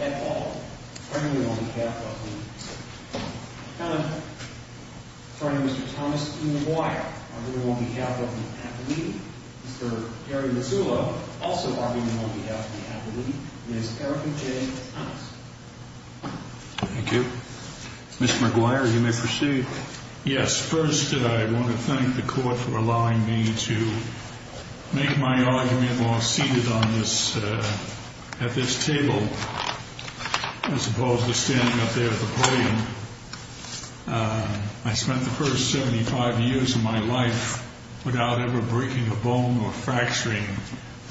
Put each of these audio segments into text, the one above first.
Ethol, arguing on behalf of Ms. Erika J. Thomas. Thank you. Mr. McGuire, you may proceed. Yes. First, I want to thank the Court for allowing me to make my argument while seated at this table, as opposed to standing up there at the podium. I spent the first 75 years of my life without ever breaking a bone or fracturing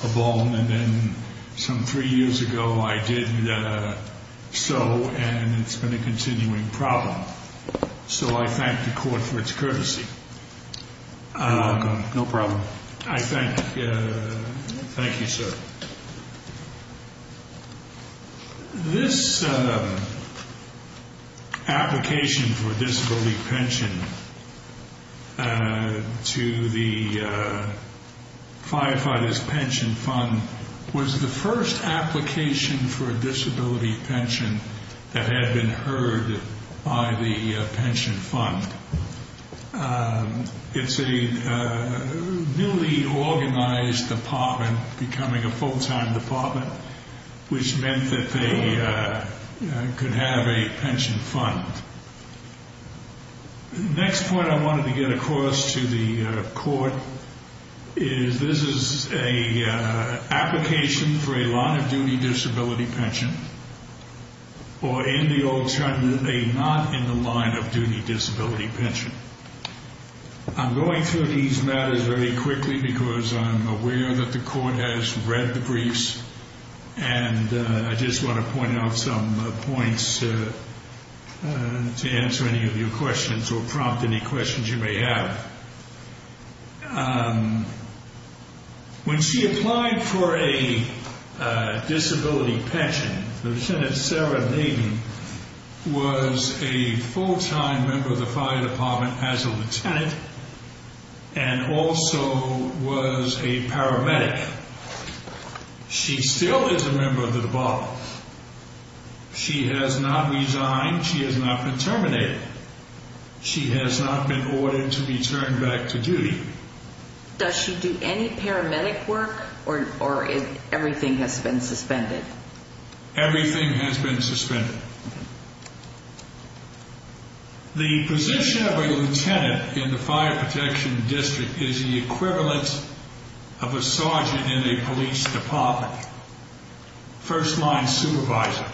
a bone, and then some three years ago I did so, and it's been a continuing problem. So I thank the Court for its courtesy. You're welcome. No problem. I thank you, sir. This application for disability pension to the Firefighters Pension Fund was the first application for a disability pension that had been heard by the pension fund. It's a newly organized department, becoming a full-time department, which meant that they could have a pension fund. The next point I wanted to get across to the Court is this is an application for a line-of-duty disability pension, or in the old term, a not-in-the-line-of-duty disability pension. I'm going through these matters very quickly because I'm aware that the Court has read the briefs, and I just want to point out some points to answer any of your questions or prompt any questions you may have. When she applied for a disability pension, Lieutenant Sarah Naden was a full-time member of the fire department as a lieutenant and also was a paramedic. She still is a member of the debauchess. She has not resigned. She has not been terminated. She has not been ordered to return back to duty. Does she do any paramedic work, or everything has been suspended? Everything has been suspended. The position of a lieutenant in the fire protection district is the equivalent of a sergeant in a police department, first-line supervisor.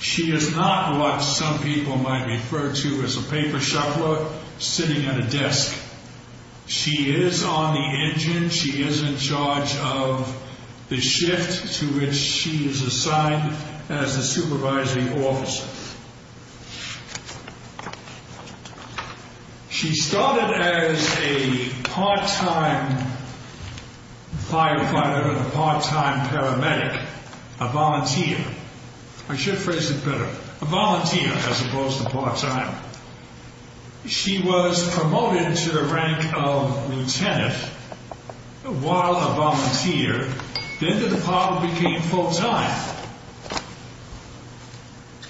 She is not what some people might refer to as a paper shuffler sitting at a desk. She is on the engine. She is in charge of the shift to which she is assigned as a supervising officer. She started as a part-time firefighter, a part-time paramedic, a volunteer. I should phrase it better. A volunteer as opposed to part-time. She was promoted to the rank of lieutenant while a volunteer. Then the department became full-time.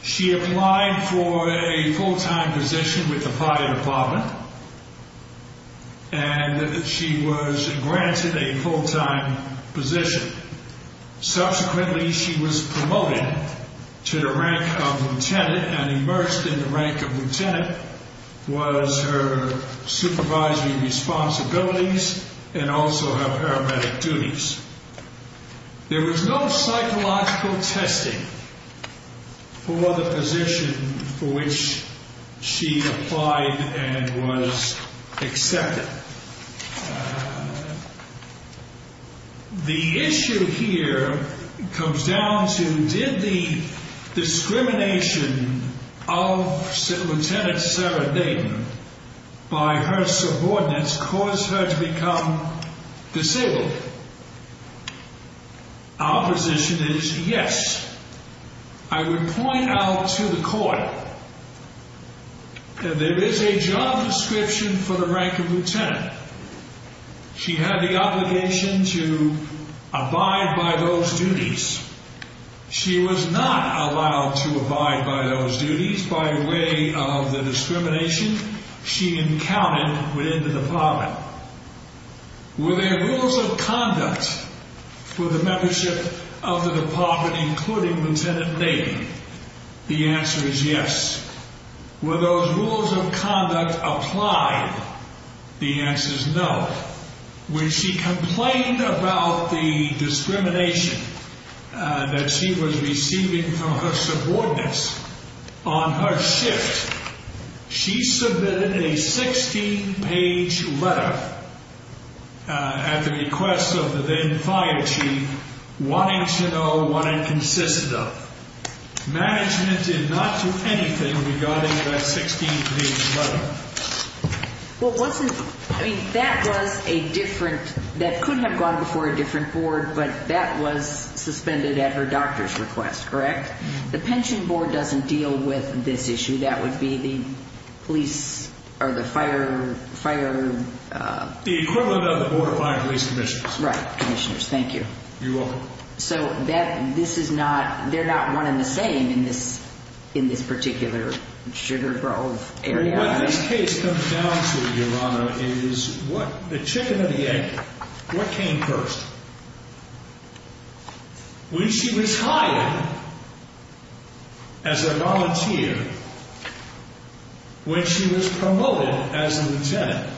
She applied for a full-time position with the fire department, and she was granted a full-time position. Subsequently, she was promoted to the rank of lieutenant, and immersed in the rank of lieutenant was her supervisory responsibilities and also her paramedic duties. There was no psychological testing for the position for which she applied and was accepted. The issue here comes down to did the discrimination of Lieutenant Sarah Dayton by her subordinates cause her to become disabled? Our position is yes. I would point out to the court that there is a job description for the rank of lieutenant. She had the obligation to abide by those duties. She was not allowed to abide by those duties by way of the discrimination she encountered within the department. Were there rules of conduct for the membership of the department including Lieutenant Dayton? The answer is yes. Were those rules of conduct applied? The answer is no. When she complained about the discrimination that she was receiving from her subordinates on her shift, she submitted a 16-page letter at the request of the then fire chief wanting to know what it consisted of. Management did not do anything regarding that 16-page letter. That could have gone before a different board, but that was suspended at her doctor's request, correct? The pension board doesn't deal with this issue. That would be the police or the fire... The equivalent of the board of fire and police commissioners. Right, commissioners. Thank you. You're welcome. So they're not one and the same in this particular Sugar Grove area. What this case comes down to, Your Honor, is the chicken or the egg. What came first? When she was hired as a volunteer, when she was promoted as a lieutenant,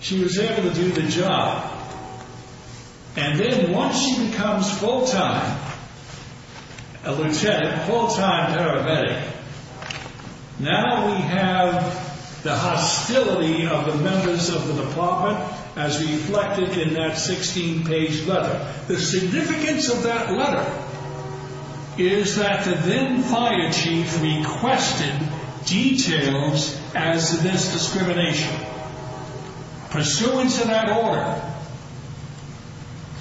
she was able to do the job. And then once she becomes full-time a lieutenant, full-time paramedic, Now we have the hostility of the members of the department as reflected in that 16-page letter. The significance of that letter is that the then fire chief requested details as to this discrimination. Pursuant to that order,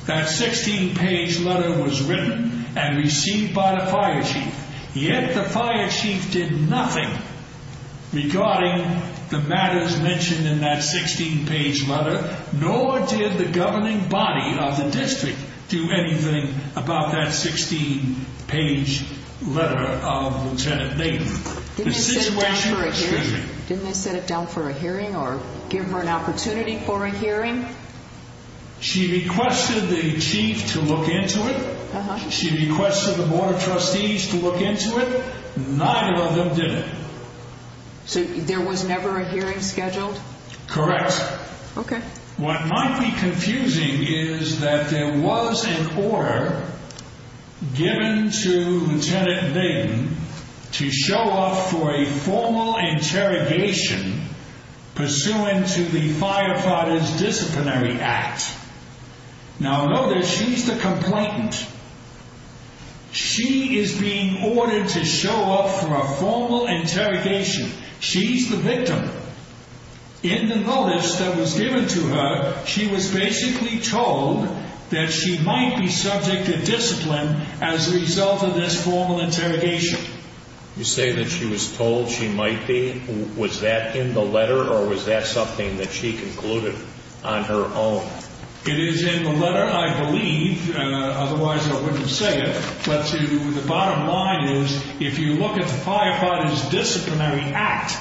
that 16-page letter was written and received by the fire chief. Yet the fire chief did nothing regarding the matters mentioned in that 16-page letter. Nor did the governing body of the district do anything about that 16-page letter of Lieutenant Nathan. Didn't they set it down for a hearing or give her an opportunity for a hearing? She requested the chief to look into it. She requested the board of trustees to look into it. Neither of them did it. So there was never a hearing scheduled? Correct. Okay. What might be confusing is that there was an order given to Lieutenant Dayton to show up for a formal interrogation pursuant to the Firefighters Disciplinary Act. Now notice, she's the complainant. She is being ordered to show up for a formal interrogation. She's the victim. In the knowledge that was given to her, she was basically told that she might be subject to discipline as a result of this formal interrogation. You say that she was told she might be? Was that in the letter or was that something that she concluded on her own? It is in the letter, I believe. Otherwise I wouldn't say it. But the bottom line is, if you look at the Firefighters Disciplinary Act,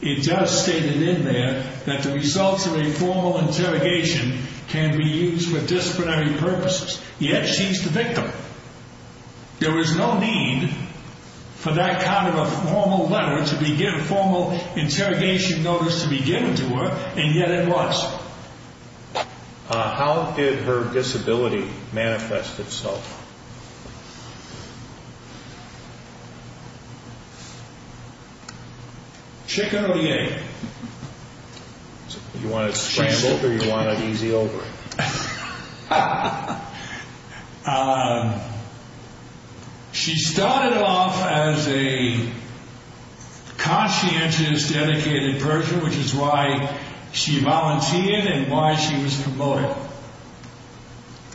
it does state it in there that the results of a formal interrogation can be used for disciplinary purposes. Yet she's the victim. There was no need for that kind of a formal letter, formal interrogation notice to be given to her, and yet it was. How did her disability manifest itself? Chick or yay? You want it scrambled or you want it easy over? She started off as a conscientious, dedicated person, which is why she volunteered and why she was promoted.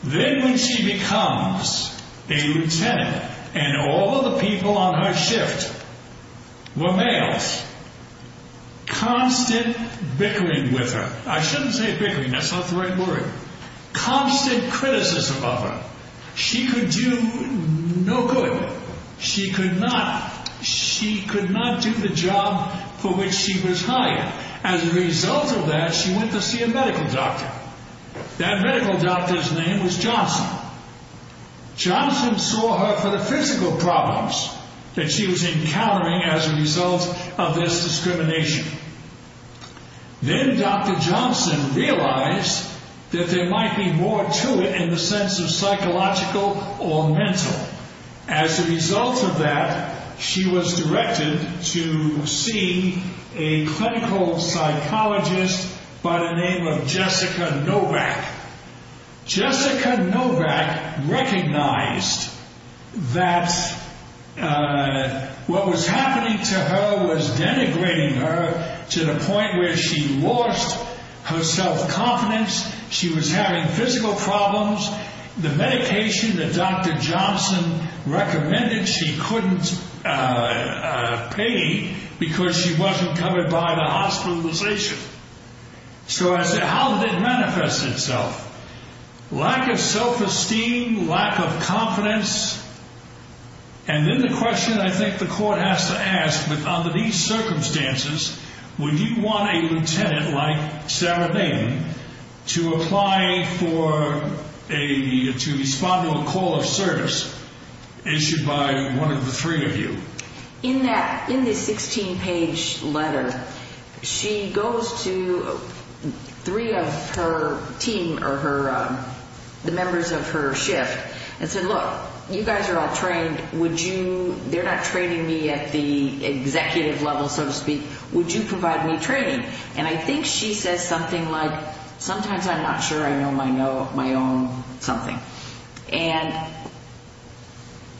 Then when she becomes a lieutenant and all of the people on her shift were males, constant bickering with her. I shouldn't say bickering, that's not the right word. Constant criticism of her. She could do no good. She could not do the job for which she was hired. As a result of that, she went to see a medical doctor. That medical doctor's name was Johnson. Johnson saw her for the physical problems that she was encountering as a result of this discrimination. Then Dr. Johnson realized that there might be more to it in the sense of psychological or mental. As a result of that, she was directed to see a clinical psychologist by the name of Jessica Novak. Jessica Novak recognized that what was happening to her was denigrating her to the point where she lost her self-confidence. She was having physical problems. The medication that Dr. Johnson recommended she couldn't pay because she wasn't covered by the hospitalization. So I said, how did it manifest itself? Lack of self-esteem, lack of confidence. And then the question I think the court has to ask, under these circumstances, would you want a lieutenant like Sarah Baden to respond to a call of service issued by one of the three of you? In this 16-page letter, she goes to three of her team or the members of her shift and said, look, you guys are all trained. They're not training me at the executive level, so to speak. Would you provide me training? And I think she says something like, sometimes I'm not sure I know my own something. And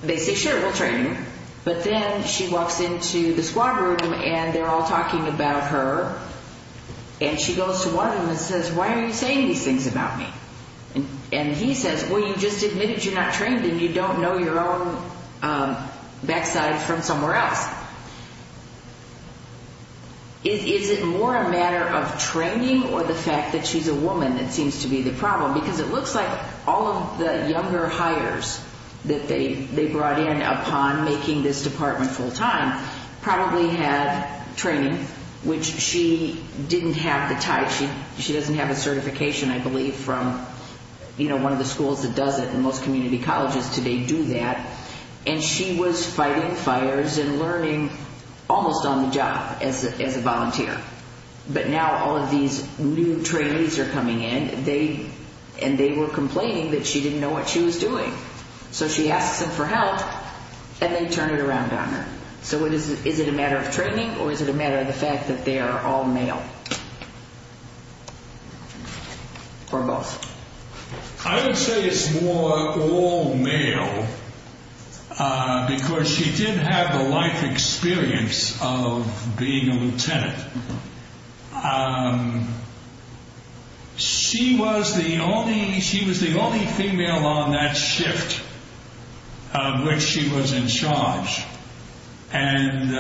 they say, sure, we'll train you. But then she walks into the squad room and they're all talking about her. And she goes to one of them and says, why are you saying these things about me? And he says, well, you just admitted you're not trained and you don't know your own backside from somewhere else. Is it more a matter of training or the fact that she's a woman that seems to be the problem? Because it looks like all of the younger hires that they brought in upon making this department full-time probably had training, which she didn't have the type. She doesn't have a certification, I believe, from one of the schools that does it. And most community colleges today do that. And she was fighting fires and learning almost on the job as a volunteer. But now all of these new trainees are coming in. And they were complaining that she didn't know what she was doing. So she asks them for help and they turn it around on her. So is it a matter of training or is it a matter of the fact that they are all male or both? I would say it's more all male because she did have the life experience of being a lieutenant. She was the only female on that shift which she was in charge. And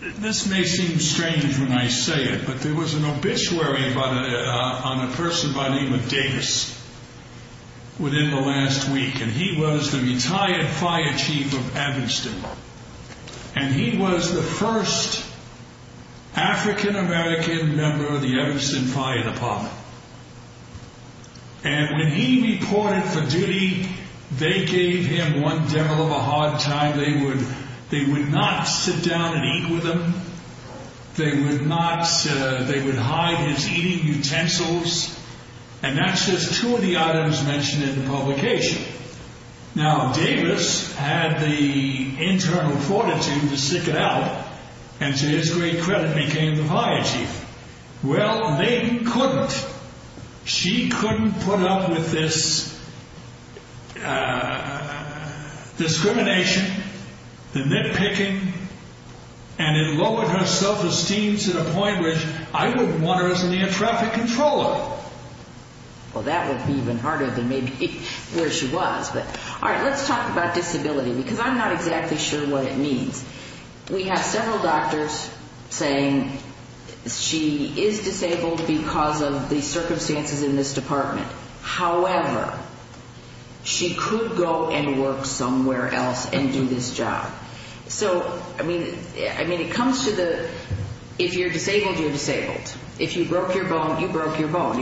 this may seem strange when I say it, but there was an obituary on a person by the name of Davis within the last week. And he was the retired fire chief of Evanston. And he was the first African-American member of the Evanston Fire Department. And when he reported for duty, they gave him one devil of a hard time. They would not sit down and eat with him. They would hide his eating utensils. And that's just two of the items mentioned in the publication. Now, Davis had the internal fortitude to stick it out and to his great credit became the fire chief. Well, they couldn't. She couldn't put up with this discrimination, the nitpicking. And it lowered her self-esteem to the point which I wouldn't want her as a near traffic controller. Well, that would be even harder than maybe where she was. But all right, let's talk about disability because I'm not exactly sure what it means. We have several doctors saying she is disabled because of the circumstances in this department. However, she could go and work somewhere else and do this job. So, I mean, it comes to the if you're disabled, you're disabled. If you broke your bone, you broke your bone.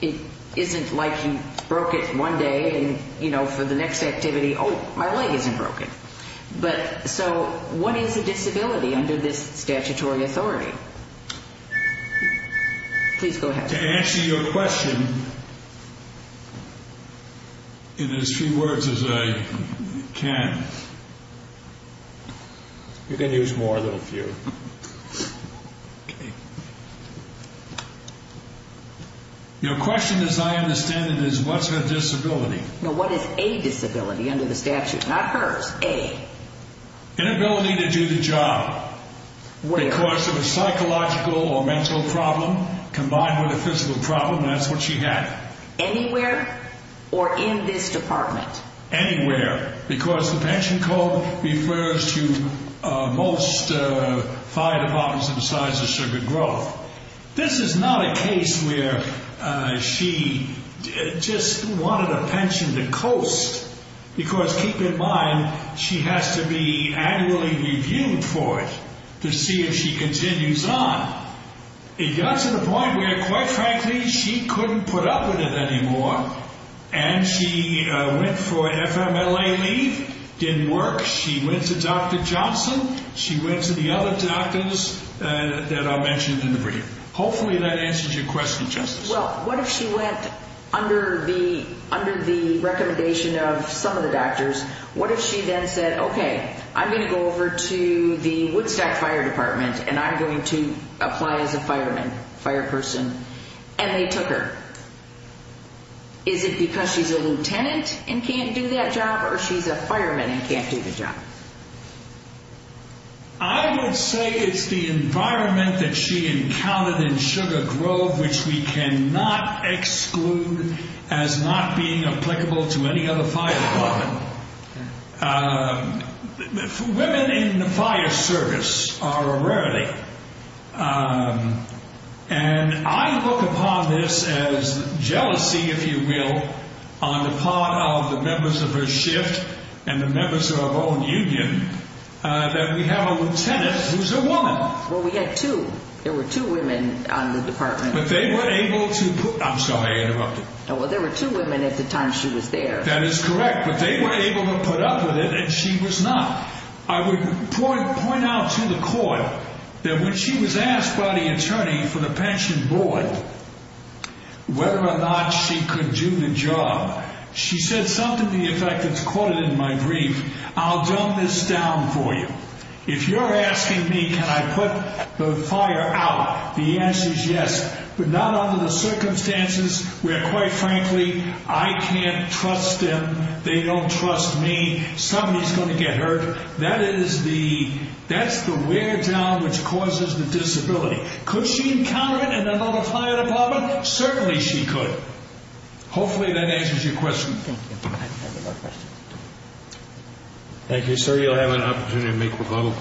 It isn't like you broke it one day and, you know, for the next activity, oh, my leg isn't broken. But so what is a disability under this statutory authority? Please go ahead. To answer your question in as few words as I can. You can use more than a few. Your question, as I understand it, is what's her disability? No, what is a disability under the statute? Not hers. A. Inability to do the job. Because of a psychological or mental problem combined with a physical problem, that's what she had. Anywhere or in this department? Anywhere. Because the pension code refers to most fire departments of the size of Sugar Grove. This is not a case where she just wanted a pension to coast. Because keep in mind, she has to be annually reviewed for it to see if she continues on. It got to the point where, quite frankly, she couldn't put up with it anymore. And she went for an FMLA leave. Didn't work. She went to Dr. Johnson. She went to the other doctors that are mentioned in the brief. Hopefully that answers your question, Justice. Well, what if she went under the recommendation of some of the doctors? What if she then said, okay, I'm going to go over to the Woodstack Fire Department and I'm going to apply as a fireman, fireperson, and they took her? Is it because she's a lieutenant and can't do that job or she's a fireman and can't do the job? I would say it's the environment that she encountered in Sugar Grove, which we cannot exclude as not being applicable to any other fire department. Women in the fire service are a rarity. And I look upon this as jealousy, if you will, on the part of the members of her shift and the members of our own union that we have a lieutenant who's a woman. Well, we had two. There were two women on the department. But they were able to put – I'm sorry, I interrupted. Well, there were two women at the time she was there. That is correct. But they were able to put up with it and she was not. I would point out to the court that when she was asked by the attorney for the pension board whether or not she could do the job, she said something to the effect that's quoted in my brief. I'll dumb this down for you. If you're asking me can I put the fire out, the answer is yes, but not under the circumstances where, quite frankly, I can't trust them, they don't trust me, somebody's going to get hurt. That's the where job which causes the disability. Could she encounter it in another fire department? Certainly she could. Hopefully that answers your question. Thank you. Thank you, sir. You'll have an opportunity to make rebuttal.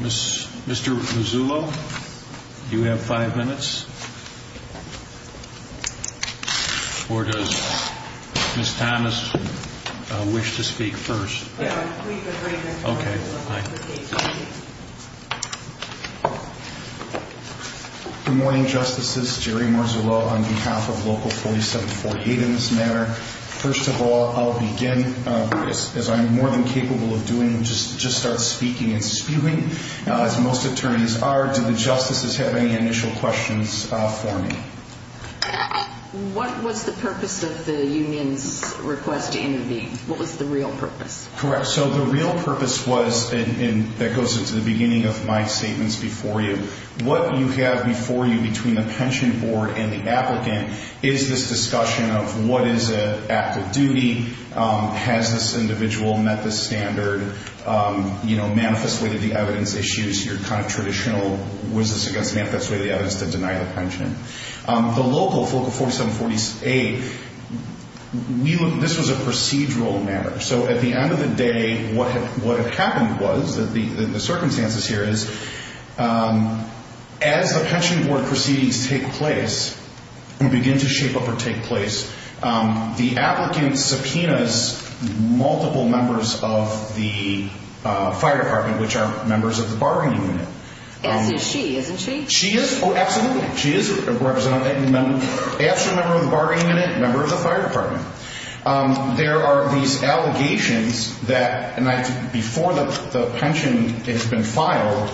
Mr. Mazzullo, do you have five minutes? Or does Ms. Thomas wish to speak first? Yeah, we can bring Mr. Mazzullo to the stage. Good morning, Justices. Jerry Mazzullo on behalf of Local 4748 in this matter. First of all, I'll begin, as I'm more than capable of doing, just start speaking and spewing. As most attorneys are, do the Justices have any initial questions for me? What was the purpose of the union's request to intervene? What was the real purpose? Correct. So the real purpose was, and that goes into the beginning of my statements before you, what you have before you between the pension board and the applicant is this discussion of what is an active duty, has this individual met the standard, you know, manifested the evidence issues, your kind of traditional was this against the evidence to deny the pension. The Local 4748, this was a procedural matter. So at the end of the day, what had happened was that the circumstances here is as the pension board proceedings take place and begin to shape up or take place, the applicant subpoenas multiple members of the fire department, which are members of the bargaining unit. Yes, it's she, isn't she? She is. Oh, absolutely. She is a member of the bargaining unit, a member of the fire department. There are these allegations that before the pension has been filed,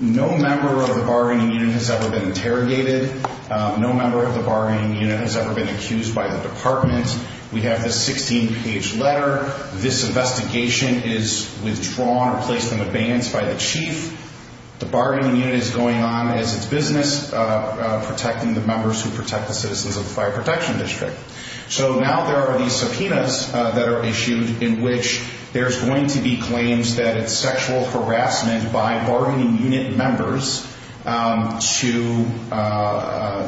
no member of the bargaining unit has ever been interrogated. No member of the bargaining unit has ever been accused by the department. We have this 16-page letter. This investigation is withdrawn or placed on the bands by the chief. The bargaining unit is going on as its business, protecting the members who protect the citizens of the fire protection district. So now there are these subpoenas that are issued in which there's going to be claims that it's sexual harassment by bargaining unit members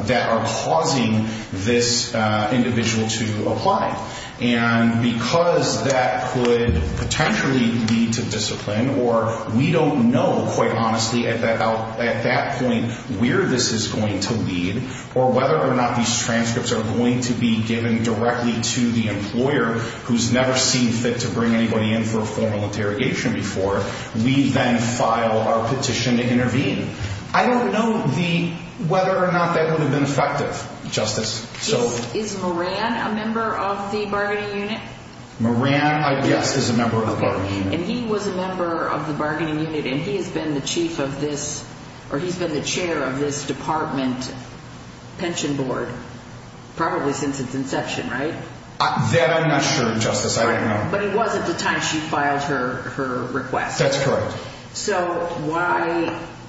that are causing this individual to apply. And because that could potentially lead to discipline, or we don't know quite honestly at that point where this is going to lead or whether or not these transcripts are going to be given directly to the employer who's never seen fit to bring anybody in for a formal interrogation before, we then file our petition to intervene. I don't know whether or not that would have been effective, Justice. Is Moran a member of the bargaining unit? Moran, yes, is a member of the bargaining unit. And he was a member of the bargaining unit, and he has been the chair of this department pension board probably since its inception, right? That I'm not sure, Justice. I don't know. But he was at the time she filed her request. That's correct.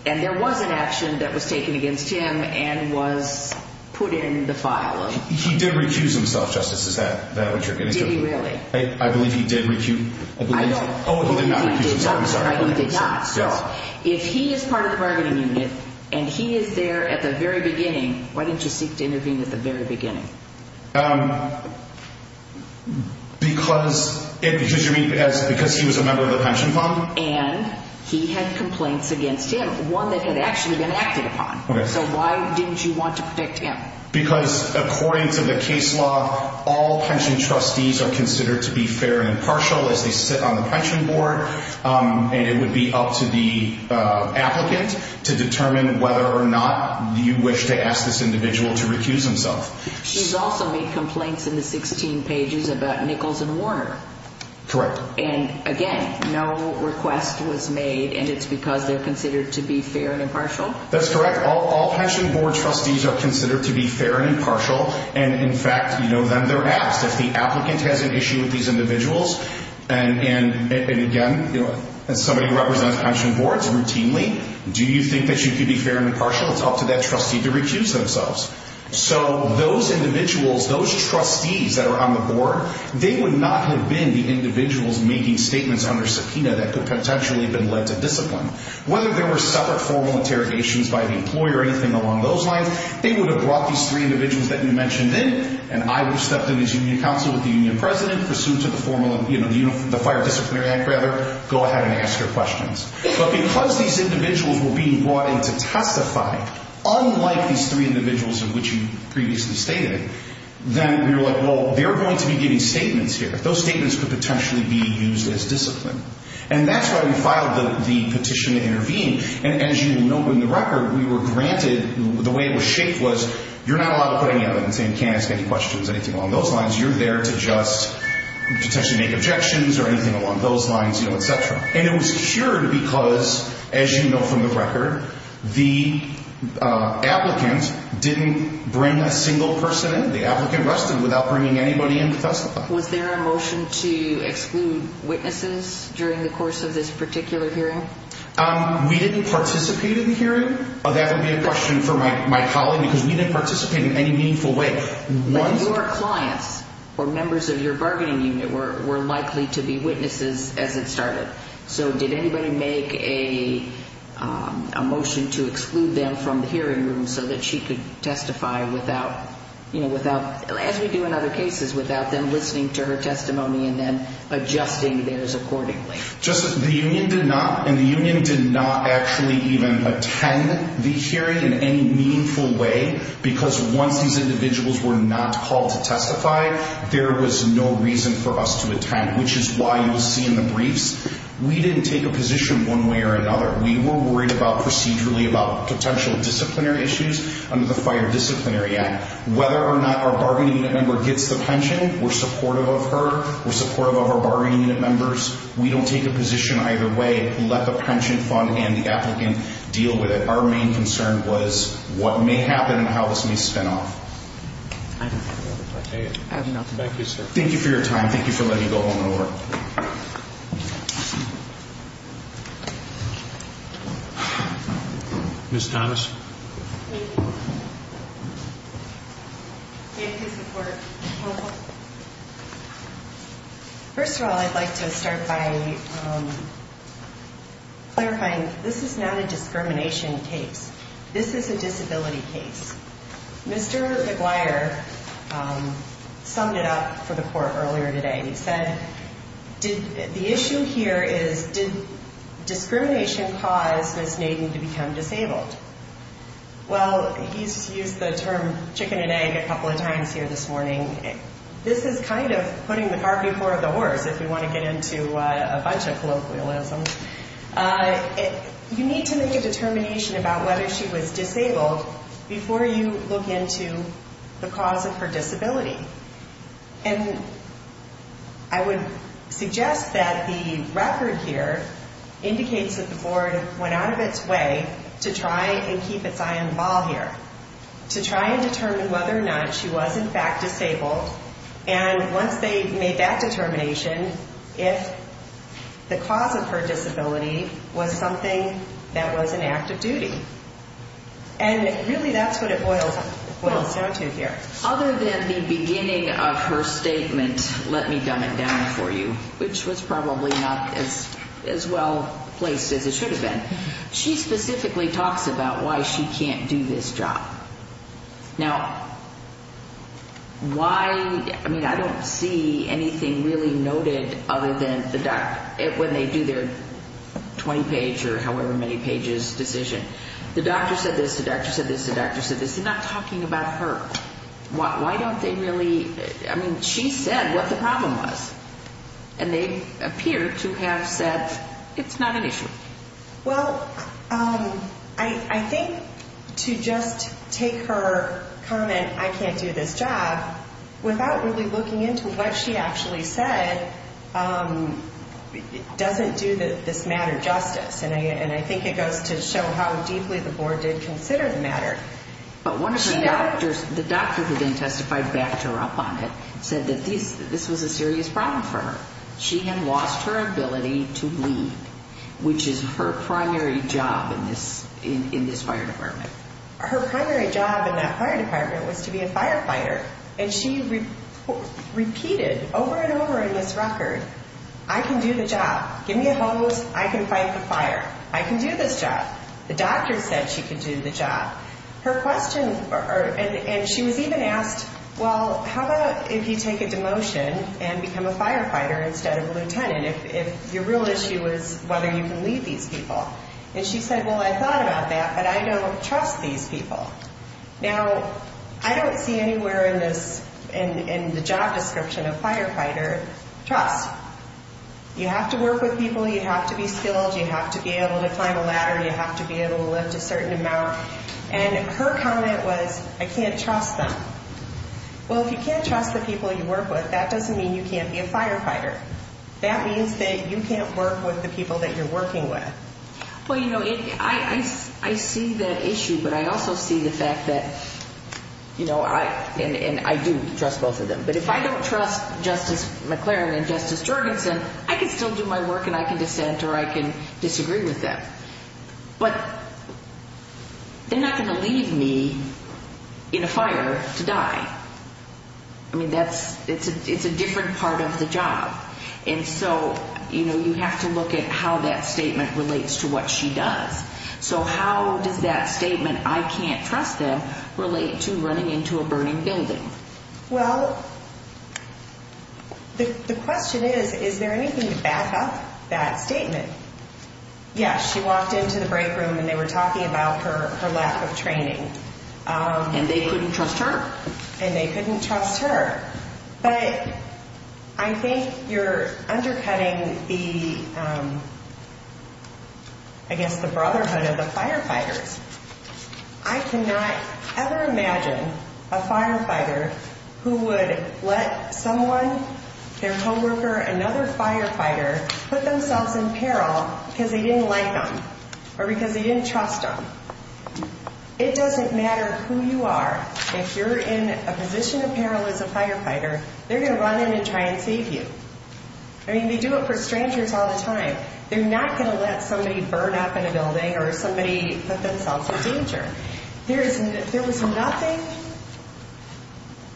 And there was an action that was taken against him and was put in the file. He did recuse himself, Justice. Is that what you're getting to? Did he really? I believe he did recuse himself. Oh, he did not recuse himself. I'm sorry. He did not. So if he is part of the bargaining unit and he is there at the very beginning, why didn't you seek to intervene at the very beginning? Because he was a member of the pension fund. And he had complaints against him, one that had actually been acted upon. So why didn't you want to protect him? Because according to the case law, all pension trustees are considered to be fair and impartial as they sit on the pension board. And it would be up to the applicant to determine whether or not you wish to ask this individual to recuse himself. She's also made complaints in the 16 pages about Nichols and Warner. Correct. And again, no request was made, and it's because they're considered to be fair and impartial? That's correct. All pension board trustees are considered to be fair and impartial. And in fact, then they're asked, if the applicant has an issue with these individuals, and again, somebody who represents pension boards routinely, do you think that you could be fair and impartial? It's up to that trustee to recuse themselves. So those individuals, those trustees that are on the board, they would not have been the individuals making statements under subpoena that could potentially have been led to discipline. Whether there were separate formal interrogations by the employer or anything along those lines, they would have brought these three individuals that you mentioned in, and I would have stepped in as union counsel with the union president, pursuant to the Fire Disciplinary Act, go ahead and ask your questions. But because these individuals were being brought in to testify, unlike these three individuals of which you previously stated, then we were like, well, they're going to be giving statements here. Those statements could potentially be used as discipline. And that's why we filed the petition to intervene. And as you know from the record, we were granted, the way it was shaped was, you're not allowed to put any evidence in, can't ask any questions, anything along those lines. You're there to just potentially make objections or anything along those lines, et cetera. And it was cured because, as you know from the record, the applicant didn't bring a single person in. The applicant rested without bringing anybody in to testify. Was there a motion to exclude witnesses during the course of this particular hearing? We didn't participate in the hearing. That would be a question for my colleague because we didn't participate in any meaningful way. But your clients or members of your bargaining unit were likely to be witnesses as it started. So did anybody make a motion to exclude them from the hearing room so that she could testify without, as we do in other cases, without them listening to her testimony and then adjusting theirs accordingly? The union did not, and the union did not actually even attend the hearing in any meaningful way because once these individuals were not called to testify, there was no reason for us to attend, which is why you'll see in the briefs, we didn't take a position one way or another. We were worried procedurally about potential disciplinary issues under the Fire Disciplinary Act. Whether or not our bargaining unit member gets the pension, we're supportive of her. We're supportive of our bargaining unit members. We don't take a position either way. We let the pension fund and the applicant deal with it. Our main concern was what may happen and how this may spin off. Thank you for your time. Thank you for letting me go home and work. Ms. Thomas? Thank you. Thank you for your support. First of all, I'd like to start by clarifying this is not a discrimination case. This is a disability case. Mr. McGuire summed it up for the court earlier today. He said the issue here is did discrimination cause Ms. Nadine to become disabled? Well, he's used the term chicken and egg a couple of times here this morning. This is kind of putting the car before the horse if we want to get into a bunch of colloquialism. You need to make a determination about whether she was disabled before you look into the cause of her disability. And I would suggest that the record here indicates that the board went out of its way to try and keep its eye on the ball here. To try and determine whether or not she was in fact disabled. And once they made that determination, if the cause of her disability was something that was an act of duty. And really that's what it boils down to here. Other than the beginning of her statement, let me dumb it down for you. Which was probably not as well placed as it should have been. She specifically talks about why she can't do this job. Now, why, I mean I don't see anything really noted other than when they do their 20 page or however many pages decision. The doctor said this, the doctor said this, the doctor said this. It's not talking about her. Why don't they really, I mean she said what the problem was. And they appear to have said it's not an issue. Well, I think to just take her comment, I can't do this job, without really looking into what she actually said doesn't do this matter justice. And I think it goes to show how deeply the board did consider the matter. But one of her doctors, the doctor who then testified backed her up on it, said that this was a serious problem for her. She had lost her ability to bleed. Which is her primary job in this fire department. Her primary job in that fire department was to be a firefighter. And she repeated over and over in this record, I can do the job. Give me a hose, I can fight the fire. I can do this job. The doctor said she could do the job. Her question, and she was even asked, well, how about if you take a demotion and become a firefighter instead of a lieutenant. If your real issue was whether you can lead these people. And she said, well, I thought about that, but I don't trust these people. Now, I don't see anywhere in this, in the job description of firefighter trust. You have to work with people. You have to be skilled. You have to be able to climb a ladder. You have to be able to lift a certain amount. And her comment was, I can't trust them. Well, if you can't trust the people you work with, that doesn't mean you can't be a firefighter. That means that you can't work with the people that you're working with. Well, you know, I see that issue, but I also see the fact that, you know, and I do trust both of them. But if I don't trust Justice McLaren and Justice Jorgensen, I can still do my work and I can dissent or I can disagree with them. But they're not going to leave me in a fire to die. I mean, that's, it's a different part of the job. And so, you know, you have to look at how that statement relates to what she does. So how does that statement, I can't trust them, relate to running into a burning building? Well, the question is, is there anything to back up that statement? Yes, she walked into the break room and they were talking about her lack of training. And they couldn't trust her. And they couldn't trust her. But I think you're undercutting the, I guess, the brotherhood of the firefighters. I cannot ever imagine a firefighter who would let someone, their homeworker, another firefighter, put themselves in peril because they didn't like them or because they didn't trust them. It doesn't matter who you are. If you're in a position of peril as a firefighter, they're going to run in and try and save you. I mean, they do it for strangers all the time. They're not going to let somebody burn up in a building or somebody put themselves in danger. There was nothing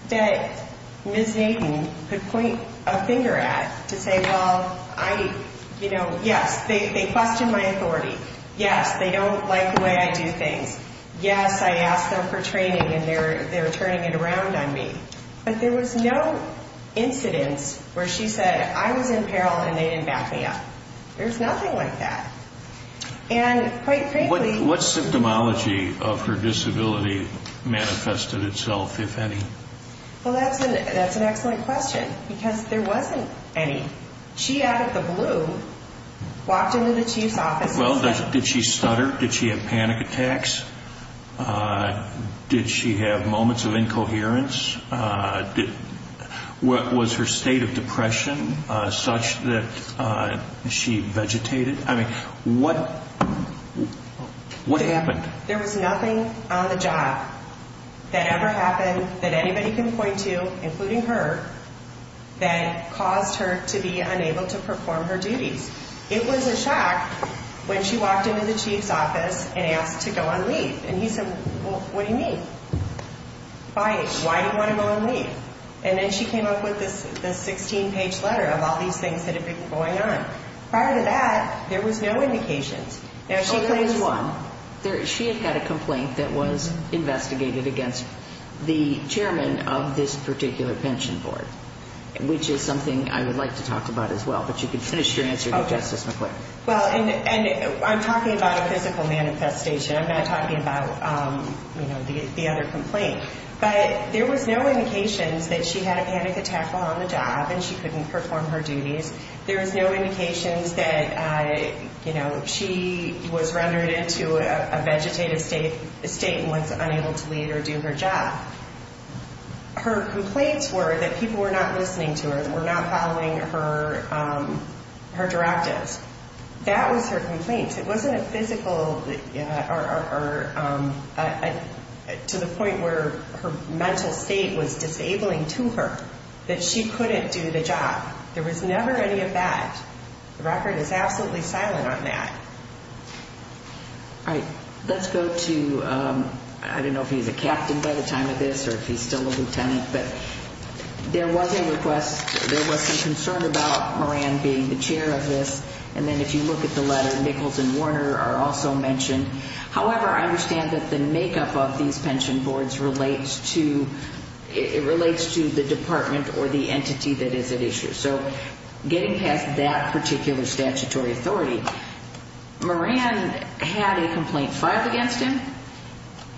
that Ms. Hayden could point a finger at to say, well, I, you know, yes, they question my authority. Yes, they don't like the way I do things. Yes, I asked them for training and they're turning it around on me. But there was no incidence where she said, I was in peril and they didn't back me up. There's nothing like that. And quite frankly— What symptomology of her disability manifested itself, if any? Well, that's an excellent question because there wasn't any. She out of the blue walked into the chief's office and said— Well, did she stutter? Did she have panic attacks? Did she have moments of incoherence? Was her state of depression such that she vegetated? I mean, what happened? There was nothing on the job that ever happened that anybody can point to, including her, that caused her to be unable to perform her duties. It was a shock when she walked into the chief's office and asked to go on leave. And he said, well, what do you mean? Why do you want to go on leave? And then she came up with this 16-page letter of all these things that had been going on. Prior to that, there was no indication. There is one. She had had a complaint that was investigated against the chairman of this particular pension board, which is something I would like to talk about as well. But you can finish your answer here, Justice McClain. Well, and I'm talking about a physical manifestation. I'm not talking about, you know, the other complaint. But there was no indications that she had a panic attack while on the job and she couldn't perform her duties. There was no indications that, you know, she was rendered into a vegetative state and was unable to leave or do her job. Her complaints were that people were not listening to her and were not following her directives. That was her complaint. It wasn't a physical or to the point where her mental state was disabling to her that she couldn't do the job. There was never any of that. The record is absolutely silent on that. All right. Let's go to, I don't know if he's a captain by the time of this or if he's still a lieutenant, but there was a request. There was some concern about Moran being the chair of this. And then if you look at the letter, Nichols and Warner are also mentioned. However, I understand that the makeup of these pension boards relates to the department or the entity that is at issue. So getting past that particular statutory authority, Moran had a complaint filed against him.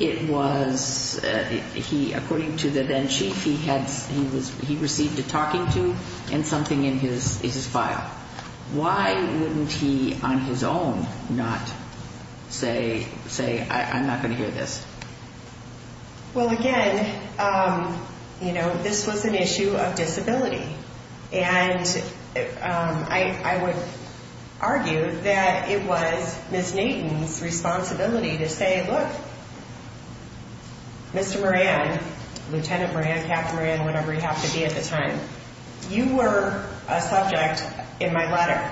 It was, according to the then chief, he received a talking to and something in his file. Why wouldn't he on his own not say, I'm not going to hear this? Well, again, you know, this was an issue of disability. And I would argue that it was Ms. Nayton's responsibility to say, look, Mr. Moran, Lieutenant Moran, Captain Moran, whatever you have to be at the time, you were a subject in my letter.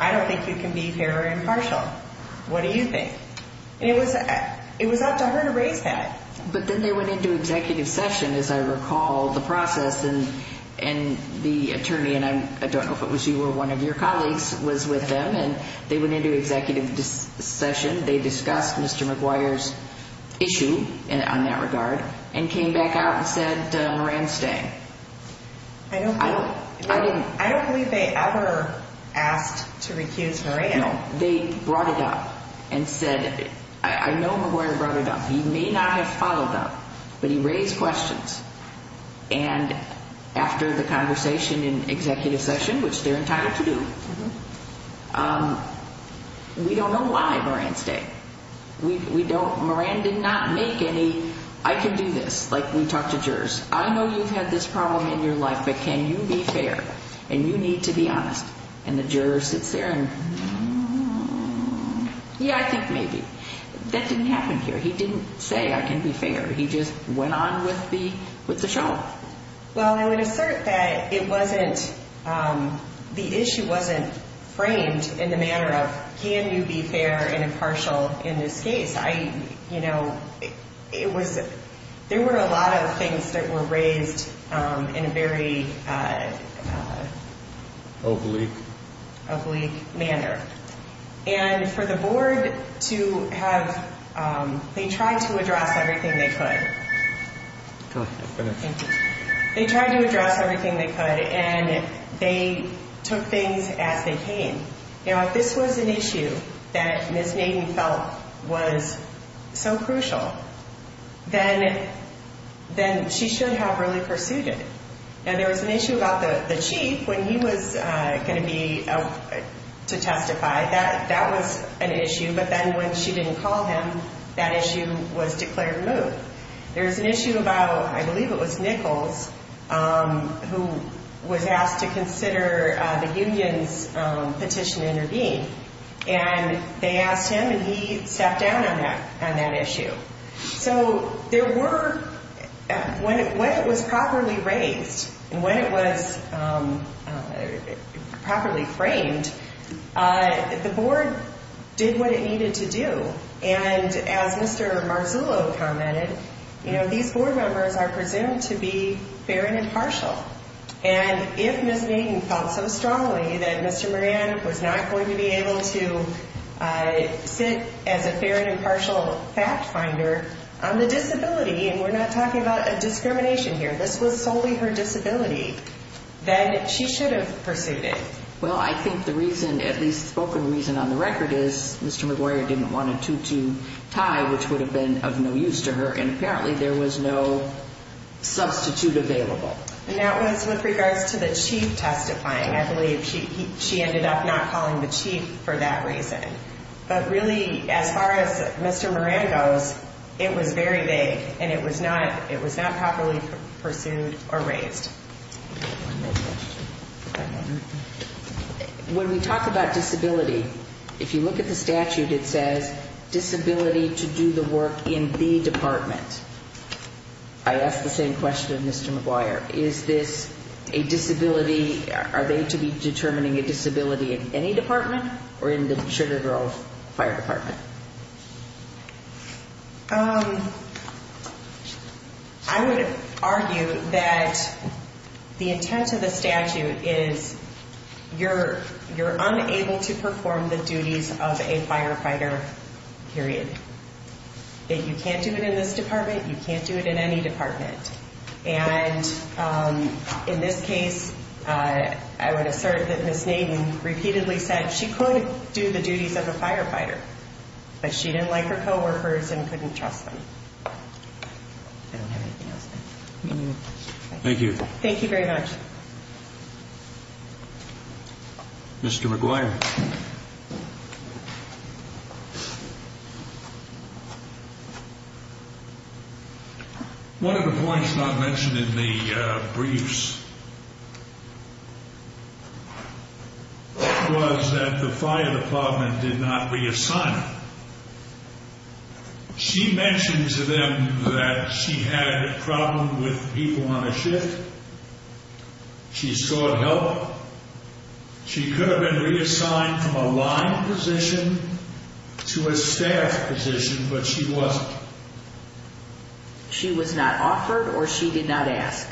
I don't think you can be fair or impartial. What do you think? And it was up to her to raise that. But then they went into executive session, as I recall the process. And the attorney, and I don't know if it was you or one of your colleagues, was with them. And they went into executive session. They discussed Mr. McGuire's issue on that regard and came back out and said Moran's staying. I don't believe they ever asked to recuse Moran. No, they brought it up and said, I know McGuire brought it up. He may not have followed up, but he raised questions. And after the conversation in executive session, which they're entitled to do, we don't know why Moran's staying. We don't. Moran did not make any, I can do this, like we talked to jurors. I know you've had this problem in your life, but can you be fair? And you need to be honest. And the juror sits there and, yeah, I think maybe. That didn't happen here. He didn't say I can be fair. He just went on with the show. Well, I would assert that it wasn't, the issue wasn't framed in the manner of can you be fair and impartial in this case. I, you know, it was, there were a lot of things that were raised in a very. Oblique. Oblique manner. And for the board to have, they tried to address everything they could. Go ahead. Thank you. They tried to address everything they could, and they took things as they came. You know, if this was an issue that Ms. Nadine felt was so crucial, then she should have really pursued it. And there was an issue about the chief when he was going to be, to testify. That was an issue. But then when she didn't call him, that issue was declared removed. There was an issue about, I believe it was Nichols, who was asked to consider the union's petition to intervene. And they asked him, and he sat down on that issue. So there were, when it was properly raised and when it was properly framed, the board did what it needed to do. And as Mr. Marzullo commented, you know, these board members are presumed to be fair and impartial. And if Ms. Nadine felt so strongly that Mr. Moran was not going to be able to sit as a fair and impartial fact finder on the disability, and we're not talking about a discrimination here, this was solely her disability, then she should have pursued it. Well, I think the reason, at least the spoken reason on the record is Mr. McGuire didn't want a two-two tie, which would have been of no use to her, and apparently there was no substitute available. And that was with regards to the chief testifying. I believe she ended up not calling the chief for that reason. But really, as far as Mr. Moran goes, it was very vague, and it was not properly pursued or raised. One more question. When we talk about disability, if you look at the statute, it says disability to do the work in the department. I ask the same question of Mr. McGuire. Is this a disability, are they to be determining a disability in any department or in the Sugar Grove Fire Department? I would argue that the intent of the statute is you're unable to perform the duties of a firefighter, period. You can't do it in this department, you can't do it in any department. And in this case, I would assert that Ms. Nadine repeatedly said she could do the duties of a firefighter, but she didn't like her co-workers and couldn't trust them. I don't have anything else. Thank you. Thank you very much. Mr. McGuire. One of the points not mentioned in the briefs was that the fire department did not reassign her. She mentioned to them that she had a problem with people on a shift. She sought help. She could have been reassigned from a line position to a staff position, but she wasn't. She was not offered or she did not ask?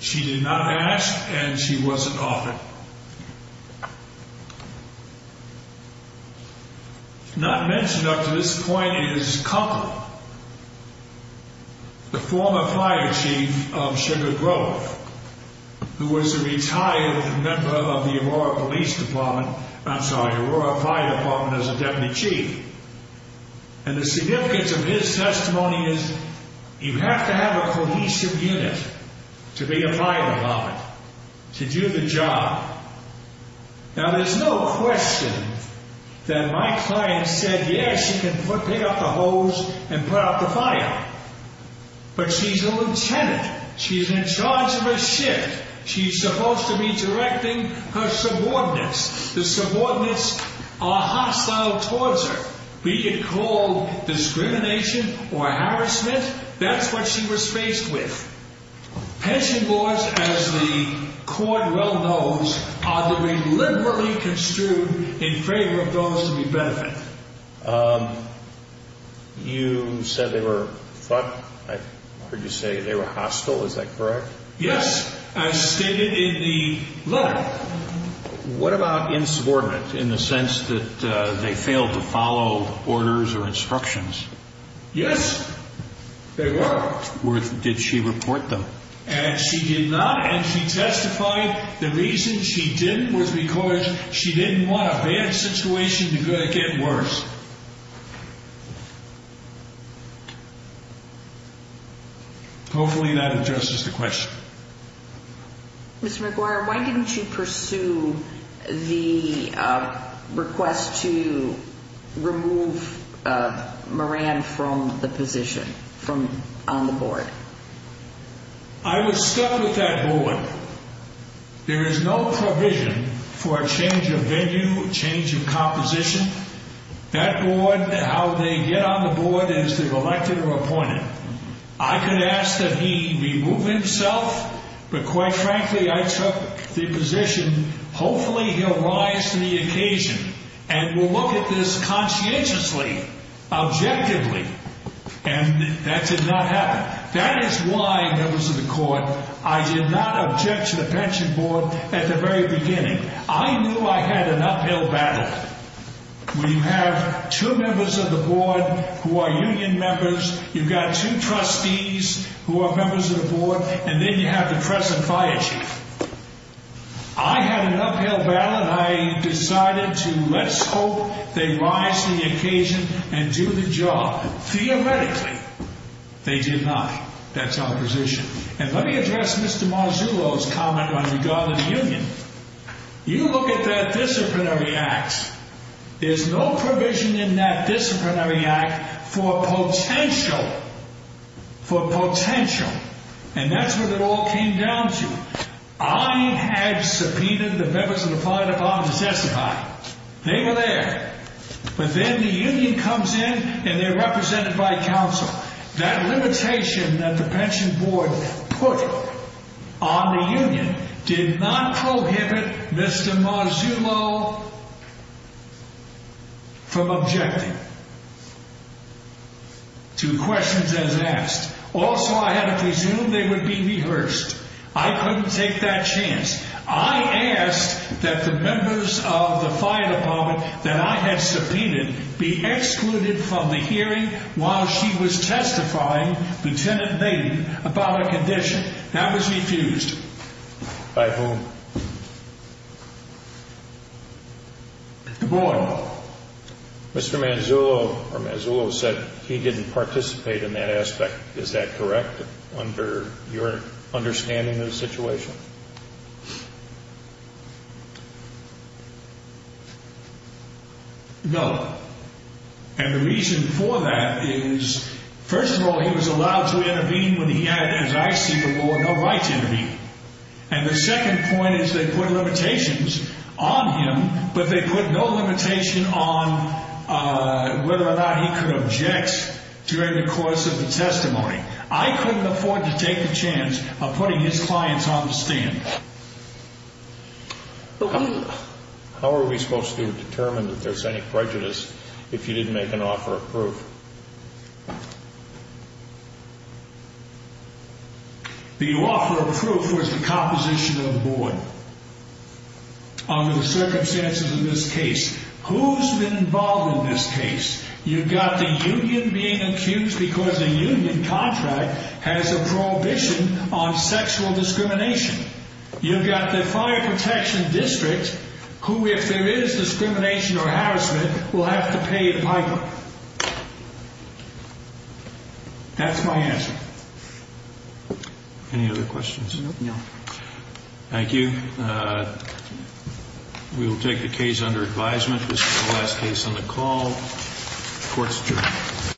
She did not ask and she wasn't offered. Not mentioned up to this point is Compton, the former fire chief of Sugar Grove, who was a retired member of the Aurora Fire Department as a deputy chief. And the significance of his testimony is you have to have a cohesive unit to be a fire department, to do the job. Now, there's no question that my client said, yes, you can pick up the hose and put out the fire. But she's a lieutenant. She's in charge of a shift. She's supposed to be directing her subordinates. The subordinates are hostile towards her. We could call discrimination or harassment. That's what she was faced with. Pension boards, as the court well knows, are deliberately construed in favor of those who benefit. You said they were hostile, is that correct? Yes, as stated in the letter. What about insubordinate, in the sense that they failed to follow orders or instructions? Yes, they were. Did she report them? She did not, and she testified the reason she didn't was because she didn't want a bad situation to get worse. Hopefully that addresses the question. Mr. McGuire, why didn't you pursue the request to remove Moran from the position, from on the board? I was stuck with that board. There is no provision for a change of venue, change of composition. That board, how they get on the board is they've elected or appointed. I could ask that he remove himself, but quite frankly I took the position, hopefully he'll rise to the occasion. And we'll look at this conscientiously, objectively. And that did not happen. That is why, members of the court, I did not object to the pension board at the very beginning. I knew I had an uphill battle. We have two members of the board who are union members. You've got two trustees who are members of the board. And then you have the present fire chief. I had an uphill battle and I decided to let's hope they rise to the occasion and do the job. Theoretically, they did not. That's our position. And let me address Mr. Marzullo's comment on regardless union. You look at that disciplinary act. There's no provision in that disciplinary act for potential, for potential. And that's what it all came down to. I had subpoenaed the members of the fire department to testify. They were there. But then the union comes in and they're represented by counsel. That limitation that the pension board put on the union did not prohibit Mr. Marzullo from objecting to questions as asked. Also, I had to presume they would be rehearsed. I couldn't take that chance. I asked that the members of the fire department that I had subpoenaed be excluded from the hearing while she was testifying, Lieutenant Maiden, about a condition. That was refused. By whom? The board. Mr. Marzullo said he didn't participate in that aspect. Is that correct under your understanding of the situation? No. And the reason for that is, first of all, he was allowed to intervene when he had, as I see the law, no right to intervene. And the second point is they put limitations on him, but they put no limitation on whether or not he could object during the course of the testimony. I couldn't afford to take the chance of putting his clients on the stand. How are we supposed to determine that there's any prejudice if you didn't make an offer of proof? The offer of proof was the composition of the board under the circumstances of this case. Who's been involved in this case? You've got the union being accused because the union contract has a prohibition on sexual discrimination. You've got the fire protection district who, if there is discrimination or harassment, will have to pay the migrant. That's my answer. Any other questions? No. Thank you. We will take the case under advisement. This is the last case on the call. Court's adjourned.